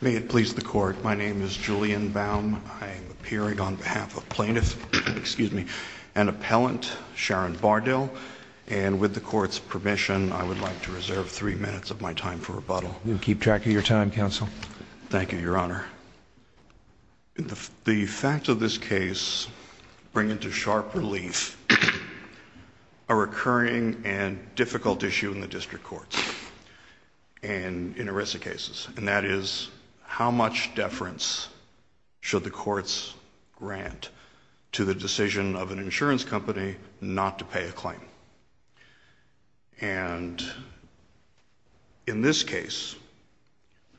May it please the court, my name is Julian Baum. I am appearing on behalf of plaintiff, excuse me, and appellant Sharon Bardill. And with the court's permission, I would like to reserve three minutes of my time for rebuttal. We'll keep track of your time, counsel. Thank you, your honor. The facts of this case bring into sharp relief a recurring and difficult issue in the district courts in ERISA cases. And that is, how much deference should the courts grant to the decision of an insurance company not to pay a claim? And in this case,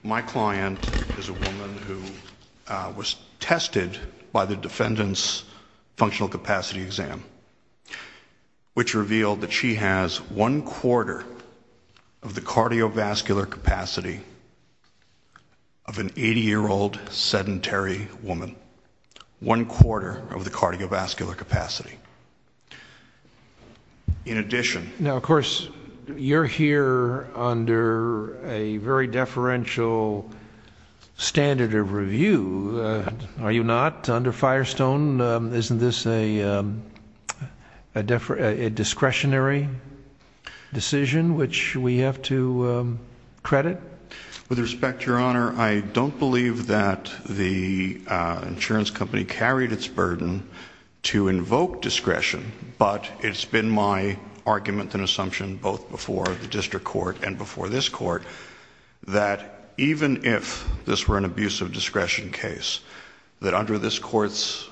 my client is a woman who was tested by the defendant's functional capacity exam, which revealed that she has one quarter of the cardiovascular capacity of an 80-year-old sedentary woman. One quarter of the cardiovascular capacity. In addition- Now, of course, you're here under a very deferential standard of review, are you not? Under Firestone, isn't this a discretionary decision which we have to credit? With respect, your honor, I don't believe that the insurance company carried its burden to invoke discretion, but it's been my argument and assumption both before the district court and before this court that even if this were an abuse of discretion case, that under this court's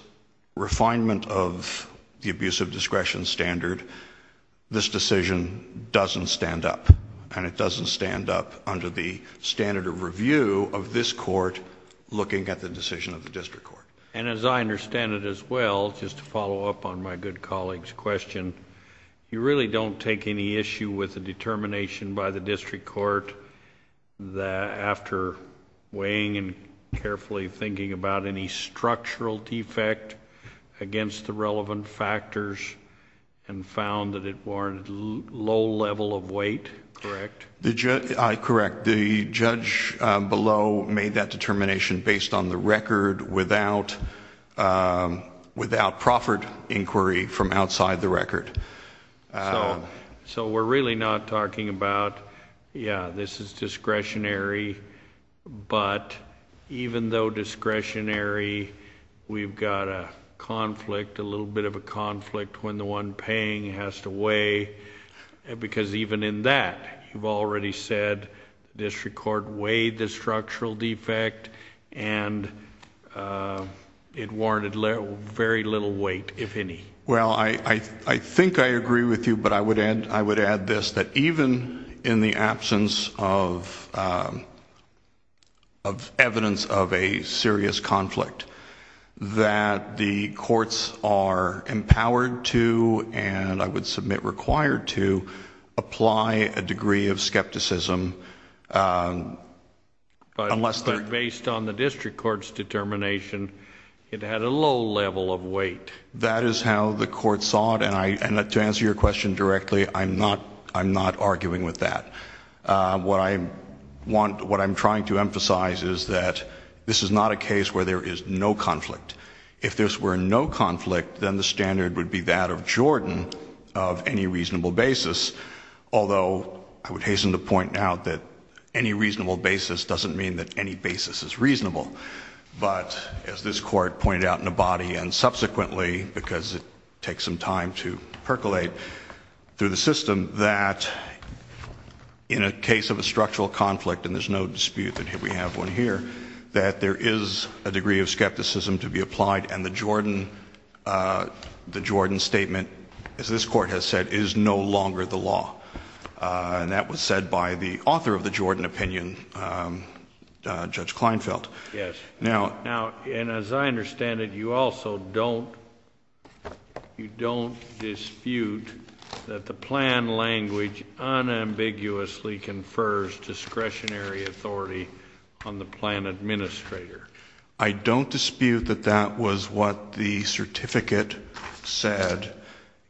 refinement of the abuse of discretion standard, this decision doesn't stand up. And it doesn't stand up under the standard of review of this court looking at the decision of the district court. And as I understand it as well, just to follow up on my good colleague's question, you really don't take any issue with the determination by the district court that after weighing and carefully thinking about any structural defect against the relevant factors and found that it warranted low level of weight, correct? Correct. The judge below made that determination based on the record without proffered inquiry from outside the record. So we're really not talking about, yeah, this is discretionary, but even though discretionary, we've got a conflict, a little bit of a conflict when the one paying has to weigh. Because even in that, you've already said district court weighed the structural defect and it warranted very little weight, if any. Well, I think I agree with you, but I would add this, that even in the absence of evidence of a serious conflict, that the courts are empowered to, and I would submit required to, apply a degree of skepticism. But based on the district court's determination, it had a low level of weight. That is how the court saw it, and to answer your question directly, I'm not arguing with that. What I'm trying to emphasize is that this is not a case where there is no conflict. If there were no conflict, then the standard would be that of Jordan of any reasonable basis, although I would hasten to point out that any reasonable basis doesn't mean that any basis is reasonable. But as this court pointed out in Abadi, and subsequently, because it takes some time to percolate through the system, that in a case of a structural conflict, and there's no dispute that we have one here, that there is a degree of skepticism to be applied, and the Jordan statement, as this court has said, is no longer the law. And that was said by the author of the Jordan opinion, Judge Kleinfeld. Yes. And as I understand it, you also don't dispute that the plan language unambiguously confers discretionary authority on the plan administrator. I don't dispute that that was what the certificate said,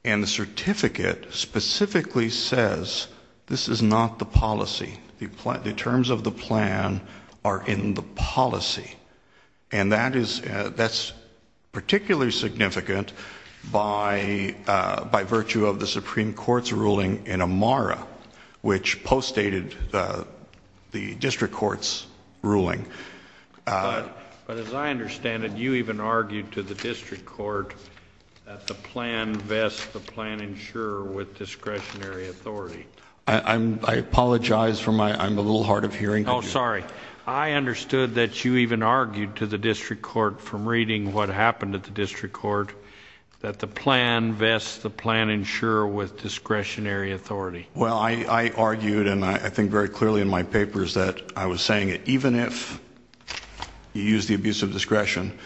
and the certificate specifically says this is not the policy. The terms of the plan are in the policy, and that's particularly significant by virtue of the Supreme Court's ruling in Amara, which postdated the district court's ruling. But as I understand it, you even argued to the district court that the plan vests the plan insurer with discretionary authority. I apologize for my ‑‑ I'm a little hard of hearing. Oh, sorry. I understood that you even argued to the district court from reading what happened at the district court that the plan vests the plan insurer with discretionary authority. Well, I argued, and I think very clearly in my papers, that I was saying that even if you use the abuse of discretion,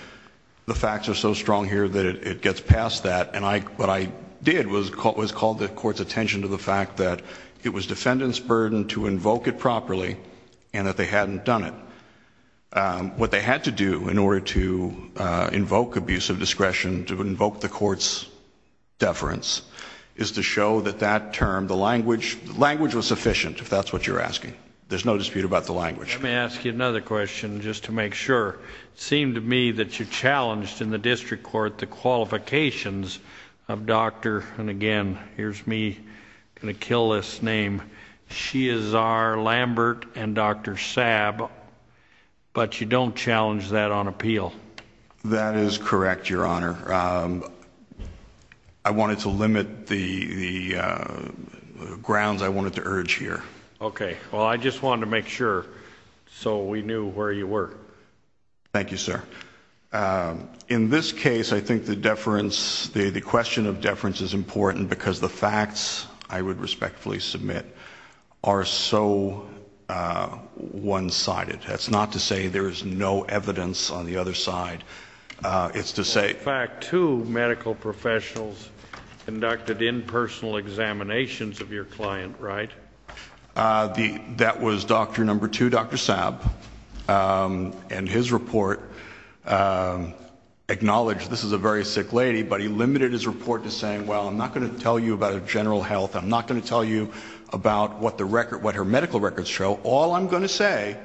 the facts are so strong here that it gets past that. And what I did was call the court's attention to the fact that it was defendant's burden to invoke it properly and that they hadn't done it. What they had to do in order to invoke abuse of discretion, to invoke the court's deference, is to show that that term, the language was sufficient, if that's what you're asking. There's no dispute about the language. Let me ask you another question just to make sure. It seemed to me that you challenged in the district court the qualifications of Dr. ‑‑ and again, here's me going to kill this name ‑‑ Shiazar Lambert and Dr. Saab, but you don't challenge that on appeal. That is correct, Your Honor. I wanted to limit the grounds I wanted to urge here. Okay. Well, I just wanted to make sure so we knew where you were. Thank you, sir. In this case, I think the deference, the question of deference is important because the facts, I would respectfully submit, are so one‑sided. That's not to say there is no evidence on the other side. In fact, two medical professionals conducted impersonal examinations of your client, right? That was doctor number two, Dr. Saab, and his report acknowledged this is a very sick lady, but he limited his report to saying, well, I'm not going to tell you about her general health. I'm not going to tell you about what her medical records show. All I'm going to say,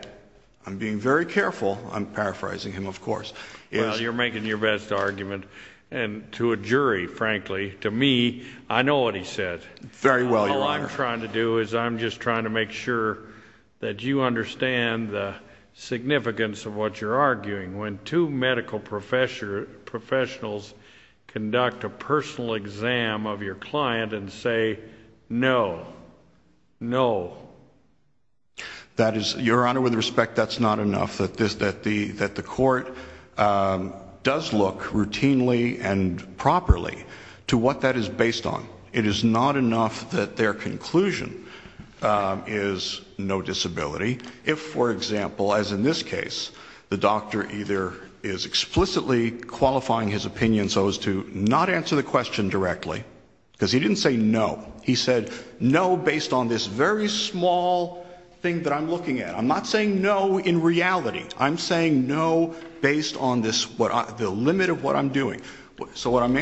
I'm being very careful. I'm paraphrasing him, of course. Well, you're making your best argument, and to a jury, frankly, to me, I know what he said. Very well, Your Honor. All I'm trying to do is I'm just trying to make sure that you understand the significance of what you're arguing. When two medical professionals conduct a personal exam of your client and say, no, no. That is, Your Honor, with respect, that's not enough. That the court does look routinely and properly to what that is based on. It is not enough that their conclusion is no disability. If, for example, as in this case, the doctor either is explicitly qualifying his opinion so as to not answer the question directly, because he didn't say no, he said no based on this very small thing that I'm looking at. I'm not saying no in reality. I'm saying no based on the limit of what I'm doing. So what I'm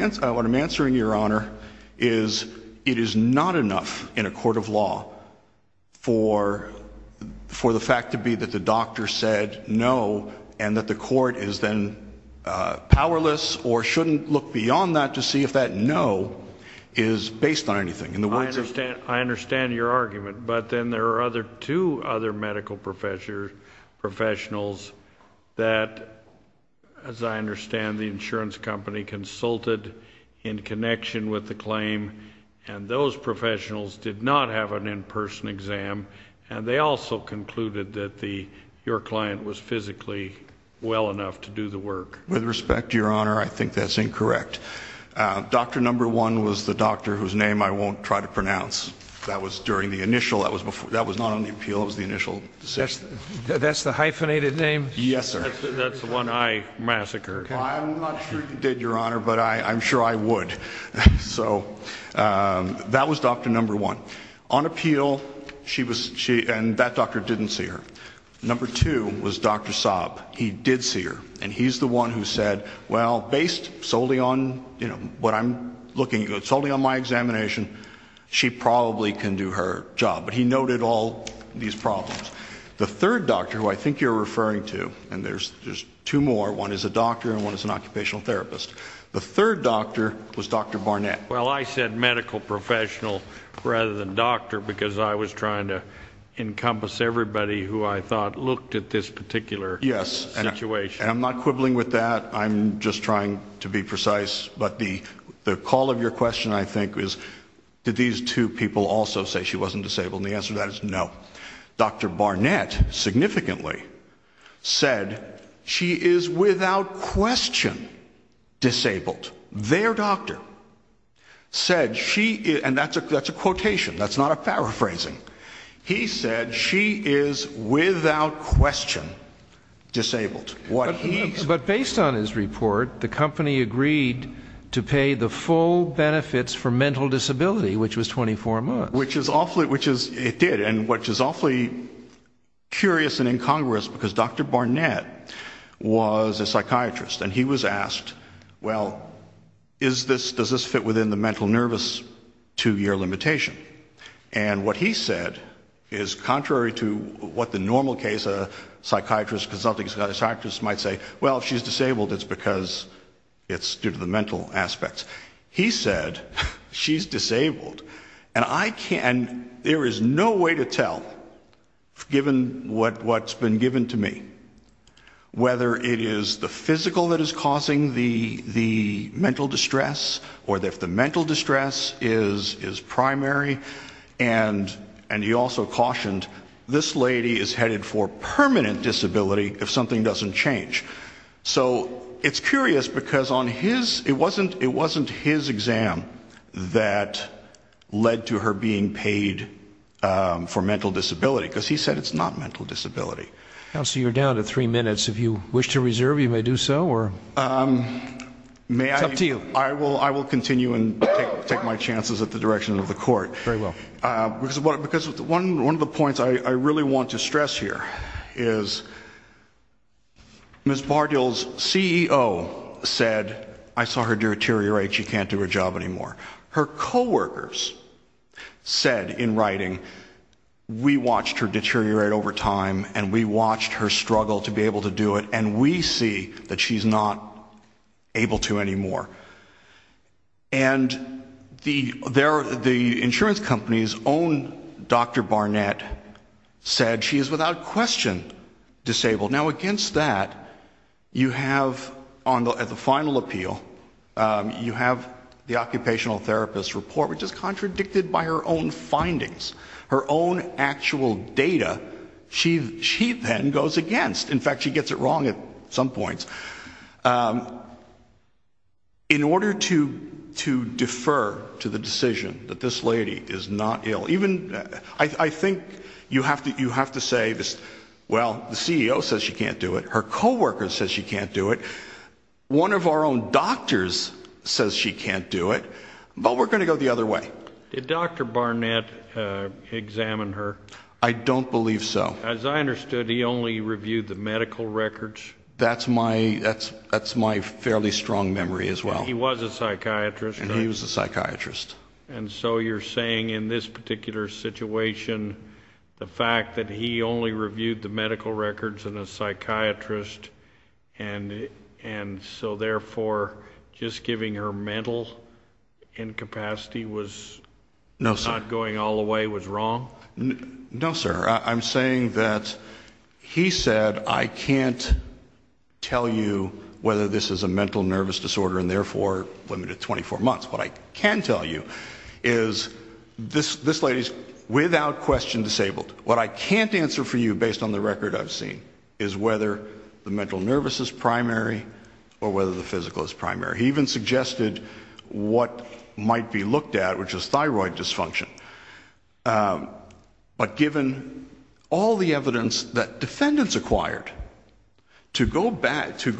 answering, Your Honor, is it is not enough in a court of law for the fact to be that the doctor said no and that the court is then powerless or shouldn't look beyond that to see if that no is based on anything. I understand your argument, but then there are two other medical professionals that, as I understand, the insurance company consulted in connection with the claim and those professionals did not have an in-person exam and they also concluded that your client was physically well enough to do the work. With respect, Your Honor, I think that's incorrect. Doctor number one was the doctor whose name I won't try to pronounce. That was during the initial, that was not on the appeal, that was the initial decision. That's the hyphenated name? Yes, sir. That's the one I massacred. Well, I'm not sure you did, Your Honor, but I'm sure I would. So that was doctor number one. On appeal, she was, and that doctor didn't see her. Number two was Dr. Saab. He did see her, and he's the one who said, well, based solely on, you know, what I'm looking at, solely on my examination, she probably can do her job. But he noted all these problems. The third doctor, who I think you're referring to, and there's two more, one is a doctor and one is an occupational therapist, the third doctor was Dr. Barnett. Well, I said medical professional rather than doctor because I was trying to encompass everybody who I thought looked at this particular situation. Yes, and I'm not quibbling with that. I'm just trying to be precise. But the call of your question, I think, is did these two people also say she wasn't disabled? And the answer to that is no. Dr. Barnett significantly said she is without question disabled. Their doctor said she is, and that's a quotation. That's not a paraphrasing. He said she is without question disabled. But based on his report, the company agreed to pay the full benefits for mental disability, which was 24 months. Which it did, and which is awfully curious and incongruous because Dr. Barnett was a psychiatrist, and he was asked, well, does this fit within the mental nervous two-year limitation? And what he said is contrary to what the normal case of a psychiatrist, a consulting psychiatrist might say, well, if she's disabled it's because it's due to the mental aspects. He said she's disabled. And I can't, there is no way to tell, given what's been given to me, whether it is the physical that is causing the mental distress or if the mental distress is primary. And he also cautioned this lady is headed for permanent disability if something doesn't change. So it's curious because on his, it wasn't his exam that led to her being paid for mental disability because he said it's not mental disability. Counselor, you're down to three minutes. If you wish to reserve, you may do so, or it's up to you. I will continue and take my chances at the direction of the court. Very well. Because one of the points I really want to stress here is Ms. Bardill's CEO said, I saw her deteriorate, she can't do her job anymore. Her coworkers said in writing, we watched her deteriorate over time and we watched her struggle to be able to do it, and we see that she's not able to anymore. And the insurance company's own Dr. Barnett said she is without question disabled. Now, against that, you have, at the final appeal, you have the occupational therapist report, which is contradicted by her own findings, her own actual data. She then goes against. In fact, she gets it wrong at some points. In order to defer to the decision that this lady is not ill, even, I think you have to say, well, the CEO says she can't do it. Her coworker says she can't do it. One of our own doctors says she can't do it. But we're going to go the other way. Did Dr. Barnett examine her? I don't believe so. As I understood, he only reviewed the medical records. That's my fairly strong memory as well. He was a psychiatrist. He was a psychiatrist. And so you're saying in this particular situation, the fact that he only reviewed the medical records and a psychiatrist, and so therefore just giving her mental incapacity was not going all the way was wrong? No, sir. I'm saying that he said I can't tell you whether this is a mental nervous disorder and therefore limited to 24 months. What I can tell you is this lady is without question disabled. What I can't answer for you based on the record I've seen is whether the mental nervous is primary or whether the physical is primary. He even suggested what might be looked at, which is thyroid dysfunction. But given all the evidence that defendants acquired, to go back to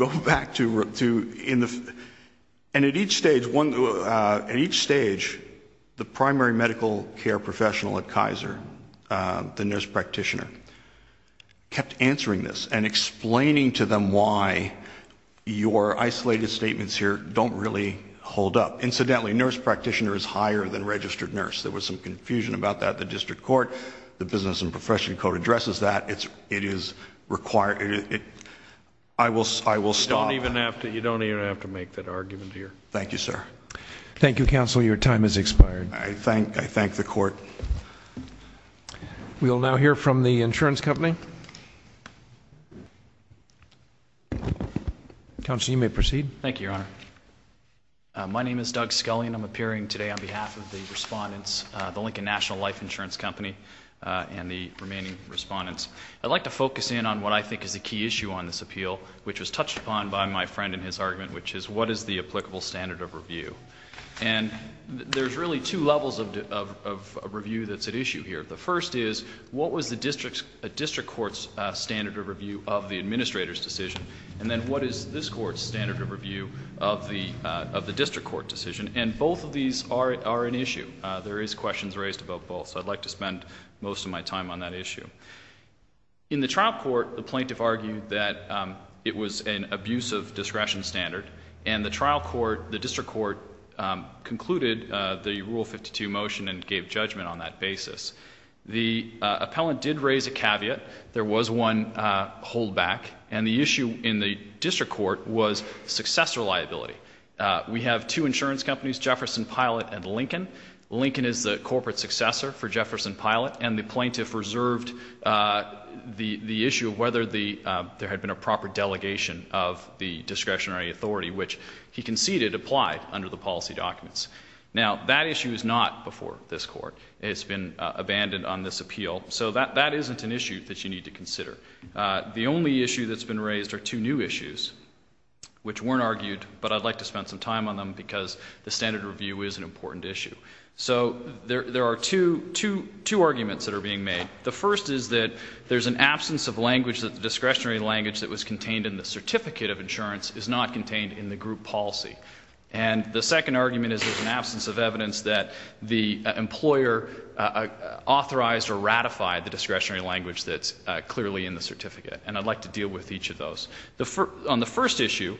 in the – At each stage, the primary medical care professional at Kaiser, the nurse practitioner, kept answering this and explaining to them why your isolated statements here don't really hold up. Incidentally, nurse practitioner is higher than registered nurse. There was some confusion about that at the district court. The Business and Profession Code addresses that. It is required – I will stop. You don't even have to make that argument here. Thank you, sir. Thank you, counsel. Your time has expired. I thank the court. We will now hear from the insurance company. Counsel, you may proceed. Thank you, Your Honor. My name is Doug Scullion. I'm appearing today on behalf of the respondents, the Lincoln National Life Insurance Company and the remaining respondents. I'd like to focus in on what I think is a key issue on this appeal, which was touched upon by my friend in his argument, which is what is the applicable standard of review? And there's really two levels of review that's at issue here. The first is what was the district court's standard of review of the administrator's decision, and then what is this court's standard of review of the district court decision? And both of these are an issue. There is questions raised about both, so I'd like to spend most of my time on that issue. In the trial court, the plaintiff argued that it was an abusive discretion standard, and the district court concluded the Rule 52 motion and gave judgment on that basis. The appellant did raise a caveat. There was one holdback, and the issue in the district court was successor liability. We have two insurance companies, Jefferson Pilot and Lincoln. Lincoln is the corporate successor for Jefferson Pilot, and the plaintiff reserved the issue of whether there had been a proper delegation of the discretionary authority, which he conceded applied under the policy documents. Now, that issue is not before this court. It's been abandoned on this appeal, so that isn't an issue that you need to consider. The only issue that's been raised are two new issues, which weren't argued, but I'd like to spend some time on them because the standard review is an important issue. So there are two arguments that are being made. The first is that there's an absence of language, that the discretionary language that was contained in the certificate of insurance is not contained in the group policy. And the second argument is there's an absence of evidence that the employer authorized or ratified the discretionary language that's clearly in the certificate, and I'd like to deal with each of those. On the first issue,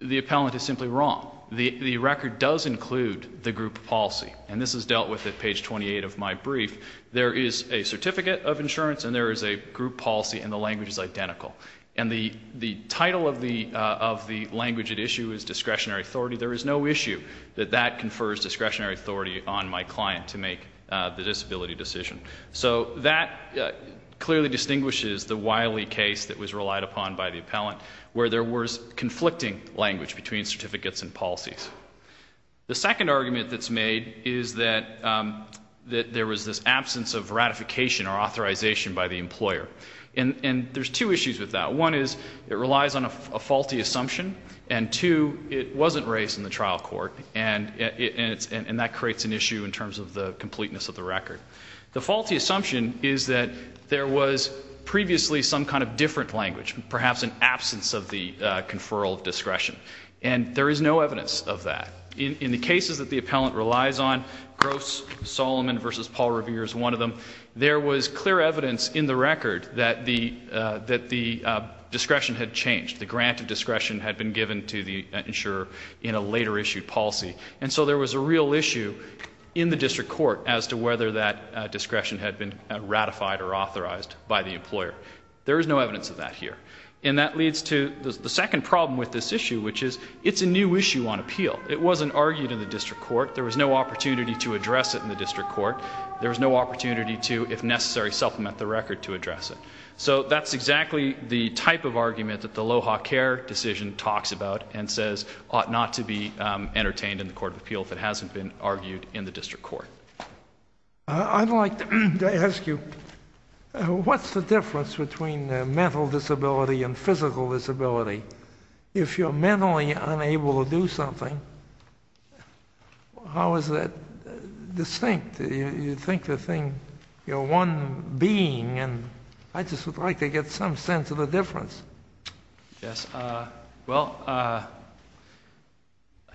the appellant is simply wrong. The record does include the group policy, and this is dealt with at page 28 of my brief. There is a certificate of insurance and there is a group policy, and the language is identical. And the title of the language at issue is discretionary authority. There is no issue that that confers discretionary authority on my client to make the disability decision. So that clearly distinguishes the Wiley case that was relied upon by the appellant, where there was conflicting language between certificates and policies. The second argument that's made is that there was this absence of ratification or authorization by the employer. And there's two issues with that. One is it relies on a faulty assumption, and two, it wasn't raised in the trial court, and that creates an issue in terms of the completeness of the record. The faulty assumption is that there was previously some kind of different language, perhaps an absence of the conferral of discretion, and there is no evidence of that. In the cases that the appellant relies on, Gross-Solomon v. Paul Revere is one of them, there was clear evidence in the record that the discretion had changed, the grant of discretion had been given to the insurer in a later issued policy. And so there was a real issue in the district court as to whether that discretion had been ratified or authorized by the employer. There is no evidence of that here. And that leads to the second problem with this issue, which is it's a new issue on appeal. It wasn't argued in the district court. There was no opportunity to address it in the district court. There was no opportunity to, if necessary, supplement the record to address it. So that's exactly the type of argument that the Loja care decision talks about and says ought not to be entertained in the court of appeal if it hasn't been argued in the district court. I'd like to ask you, what's the difference between mental disability and physical disability? If you're mentally unable to do something, how is that distinct? You think the thing, you're one being, and I just would like to get some sense of the difference. Yes, well,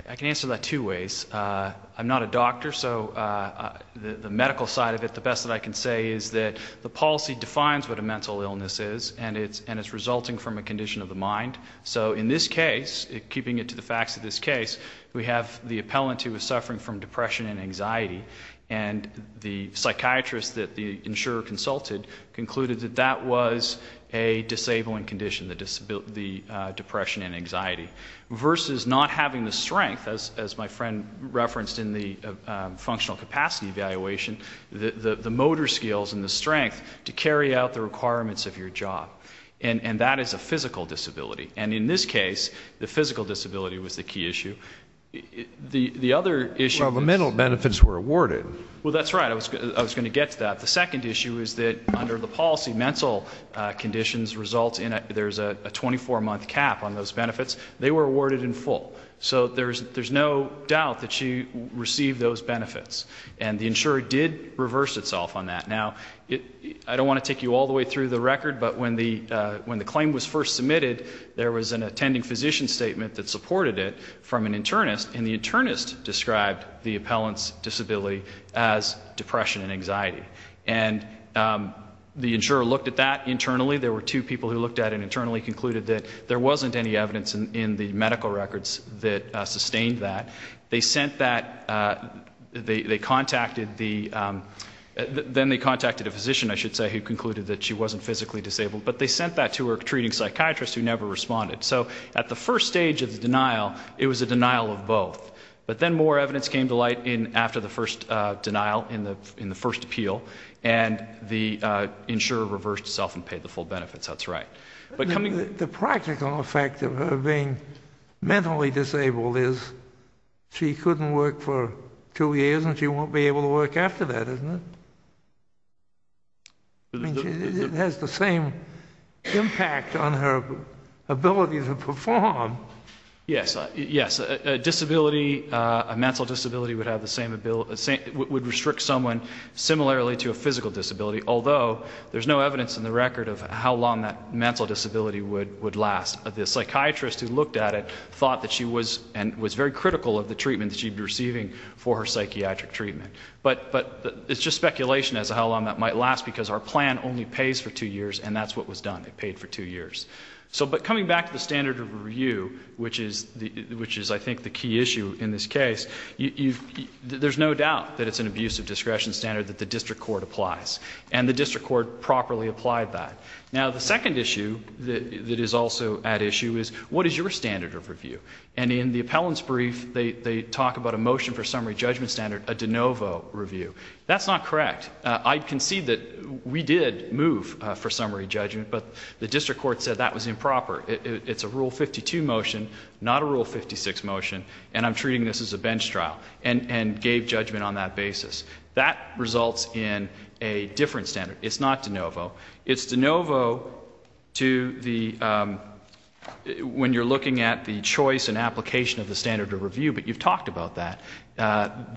I can answer that two ways. I'm not a doctor, so the medical side of it, the best that I can say is that the policy defines what a mental illness is and it's resulting from a condition of the mind. So in this case, keeping it to the facts of this case, we have the appellant who is suffering from depression and anxiety, and the psychiatrist that the insurer consulted concluded that that was a disabling condition, the depression and anxiety, versus not having the strength, as my friend referenced in the functional capacity evaluation, the motor skills and the strength to carry out the requirements of your job. And that is a physical disability. And in this case, the physical disability was the key issue. Well, the mental benefits were awarded. Well, that's right. I was going to get to that. The second issue is that under the policy, mental conditions result in there's a 24-month cap on those benefits. They were awarded in full. So there's no doubt that she received those benefits, and the insurer did reverse itself on that. Now, I don't want to take you all the way through the record, but when the claim was first submitted, there was an attending physician statement that supported it from an internist, and the internist described the appellant's disability as depression and anxiety. And the insurer looked at that internally. There were two people who looked at it internally, concluded that there wasn't any evidence in the medical records that sustained that. They sent that. They contacted the ‑‑ then they contacted a physician, I should say, who concluded that she wasn't physically disabled, but they sent that to a treating psychiatrist who never responded. So at the first stage of the denial, it was a denial of both. But then more evidence came to light after the first denial in the first appeal, and the insurer reversed itself and paid the full benefits. That's right. The practical effect of her being mentally disabled is she couldn't work for two years, and she won't be able to work after that, isn't it? It has the same impact on her ability to perform. Yes, yes. A disability, a mental disability would have the same ability ‑‑ would restrict someone similarly to a physical disability, although there's no evidence in the record of how long that mental disability would last. The psychiatrist who looked at it thought that she was and was very critical of the treatment that she'd be receiving for her psychiatric treatment. But it's just speculation as to how long that might last, because our plan only pays for two years, and that's what was done. It paid for two years. But coming back to the standard of review, which is, I think, the key issue in this case, there's no doubt that it's an abuse of discretion standard that the district court applies, and the district court properly applied that. Now, the second issue that is also at issue is what is your standard of review? And in the appellant's brief, they talk about a motion for summary judgment standard, a de novo review. That's not correct. I concede that we did move for summary judgment, but the district court said that was improper. It's a Rule 52 motion, not a Rule 56 motion, and I'm treating this as a bench trial and gave judgment on that basis. That results in a different standard. It's not de novo. It's de novo to the ‑‑ when you're looking at the choice and application of the standard of review, but you've talked about that.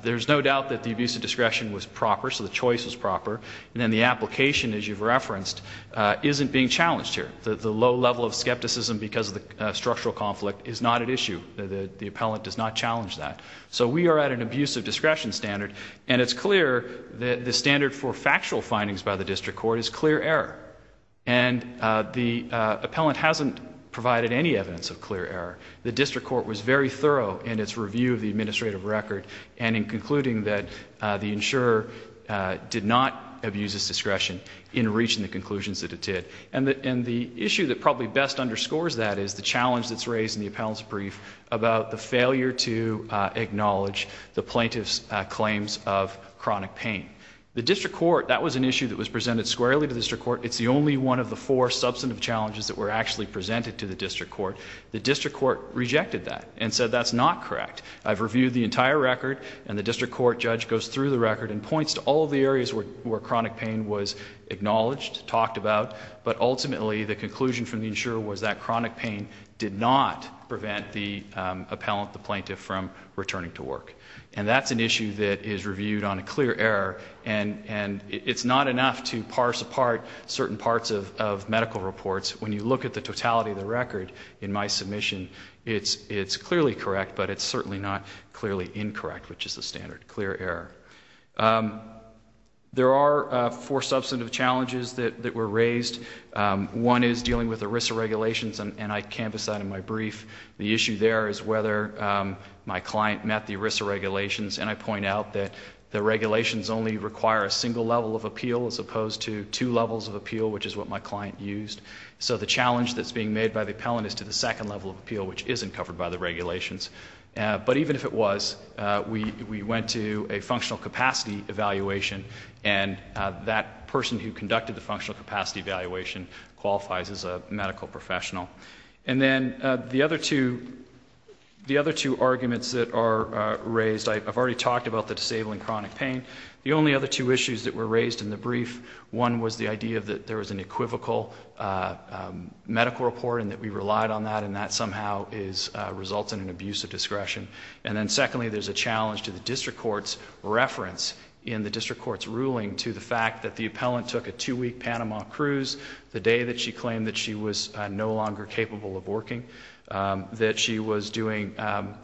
There's no doubt that the abuse of discretion was proper, so the choice was proper, and then the application, as you've referenced, isn't being challenged here. The low level of skepticism because of the structural conflict is not at issue. The appellant does not challenge that. So we are at an abuse of discretion standard, and it's clear that the standard for factual findings by the district court is clear error, and the appellant hasn't provided any evidence of clear error. The district court was very thorough in its review of the administrative record and in concluding that the insurer did not abuse his discretion in reaching the conclusions that it did. And the issue that probably best underscores that is the challenge that's raised in the appellant's brief about the failure to acknowledge the plaintiff's claims of chronic pain. The district court, that was an issue that was presented squarely to the district court. It's the only one of the four substantive challenges that were actually presented to the district court. The district court rejected that and said that's not correct. I've reviewed the entire record, and the district court judge goes through the record and points to all of the areas where chronic pain was acknowledged, talked about, but ultimately the conclusion from the insurer was that chronic pain did not prevent the appellant, the plaintiff, from returning to work. And that's an issue that is reviewed on a clear error, and it's not enough to parse apart certain parts of medical reports. When you look at the totality of the record in my submission, it's clearly correct, but it's certainly not clearly incorrect, which is the standard clear error. There are four substantive challenges that were raised. One is dealing with ERISA regulations, and I canvassed that in my brief. The issue there is whether my client met the ERISA regulations, and I point out that the regulations only require a single level of appeal as opposed to two levels of appeal, which is what my client used. So the challenge that's being made by the appellant is to the second level of appeal, which isn't covered by the regulations. But even if it was, we went to a functional capacity evaluation, and that person who conducted the functional capacity evaluation qualifies as a medical professional. And then the other two arguments that are raised, I've already talked about the disabling chronic pain. The only other two issues that were raised in the brief, one was the idea that there was an equivocal medical report and that we relied on that, and that somehow results in an abuse of discretion. And then secondly, there's a challenge to the district court's reference in the district court's ruling to the fact that the appellant took a two-week Panama cruise the day that she claimed that she was no longer capable of working, that she was doing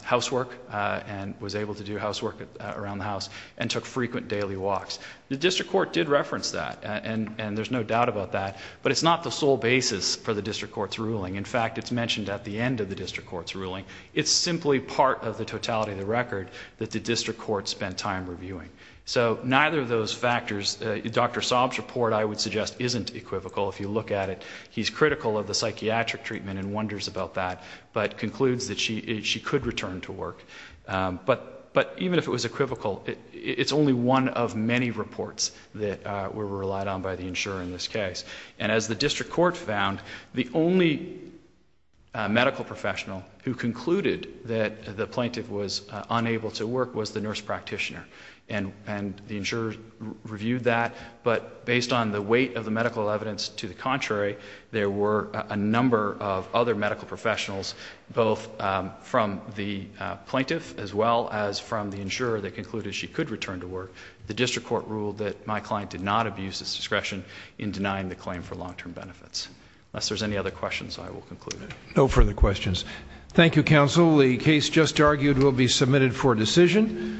housework and was able to do housework around the house and took frequent daily walks. The district court did reference that, and there's no doubt about that, but it's not the sole basis for the district court's ruling. In fact, it's mentioned at the end of the district court's ruling. It's simply part of the totality of the record that the district court spent time reviewing. So neither of those factors, Dr. Saab's report, I would suggest, isn't equivocal. If you look at it, he's critical of the psychiatric treatment and wonders about that, but concludes that she could return to work. But even if it was equivocal, it's only one of many reports that were relied on by the insurer in this case. And as the district court found, the only medical professional who concluded that the plaintiff was unable to work was the nurse practitioner, and the insurer reviewed that. But based on the weight of the medical evidence to the contrary, there were a number of other medical professionals, both from the plaintiff as well as from the insurer, that concluded she could return to work. The district court ruled that my client did not abuse his discretion in denying the claim for long-term benefits. Unless there's any other questions, I will conclude. No further questions. Thank you, counsel. The case just argued will be submitted for decision.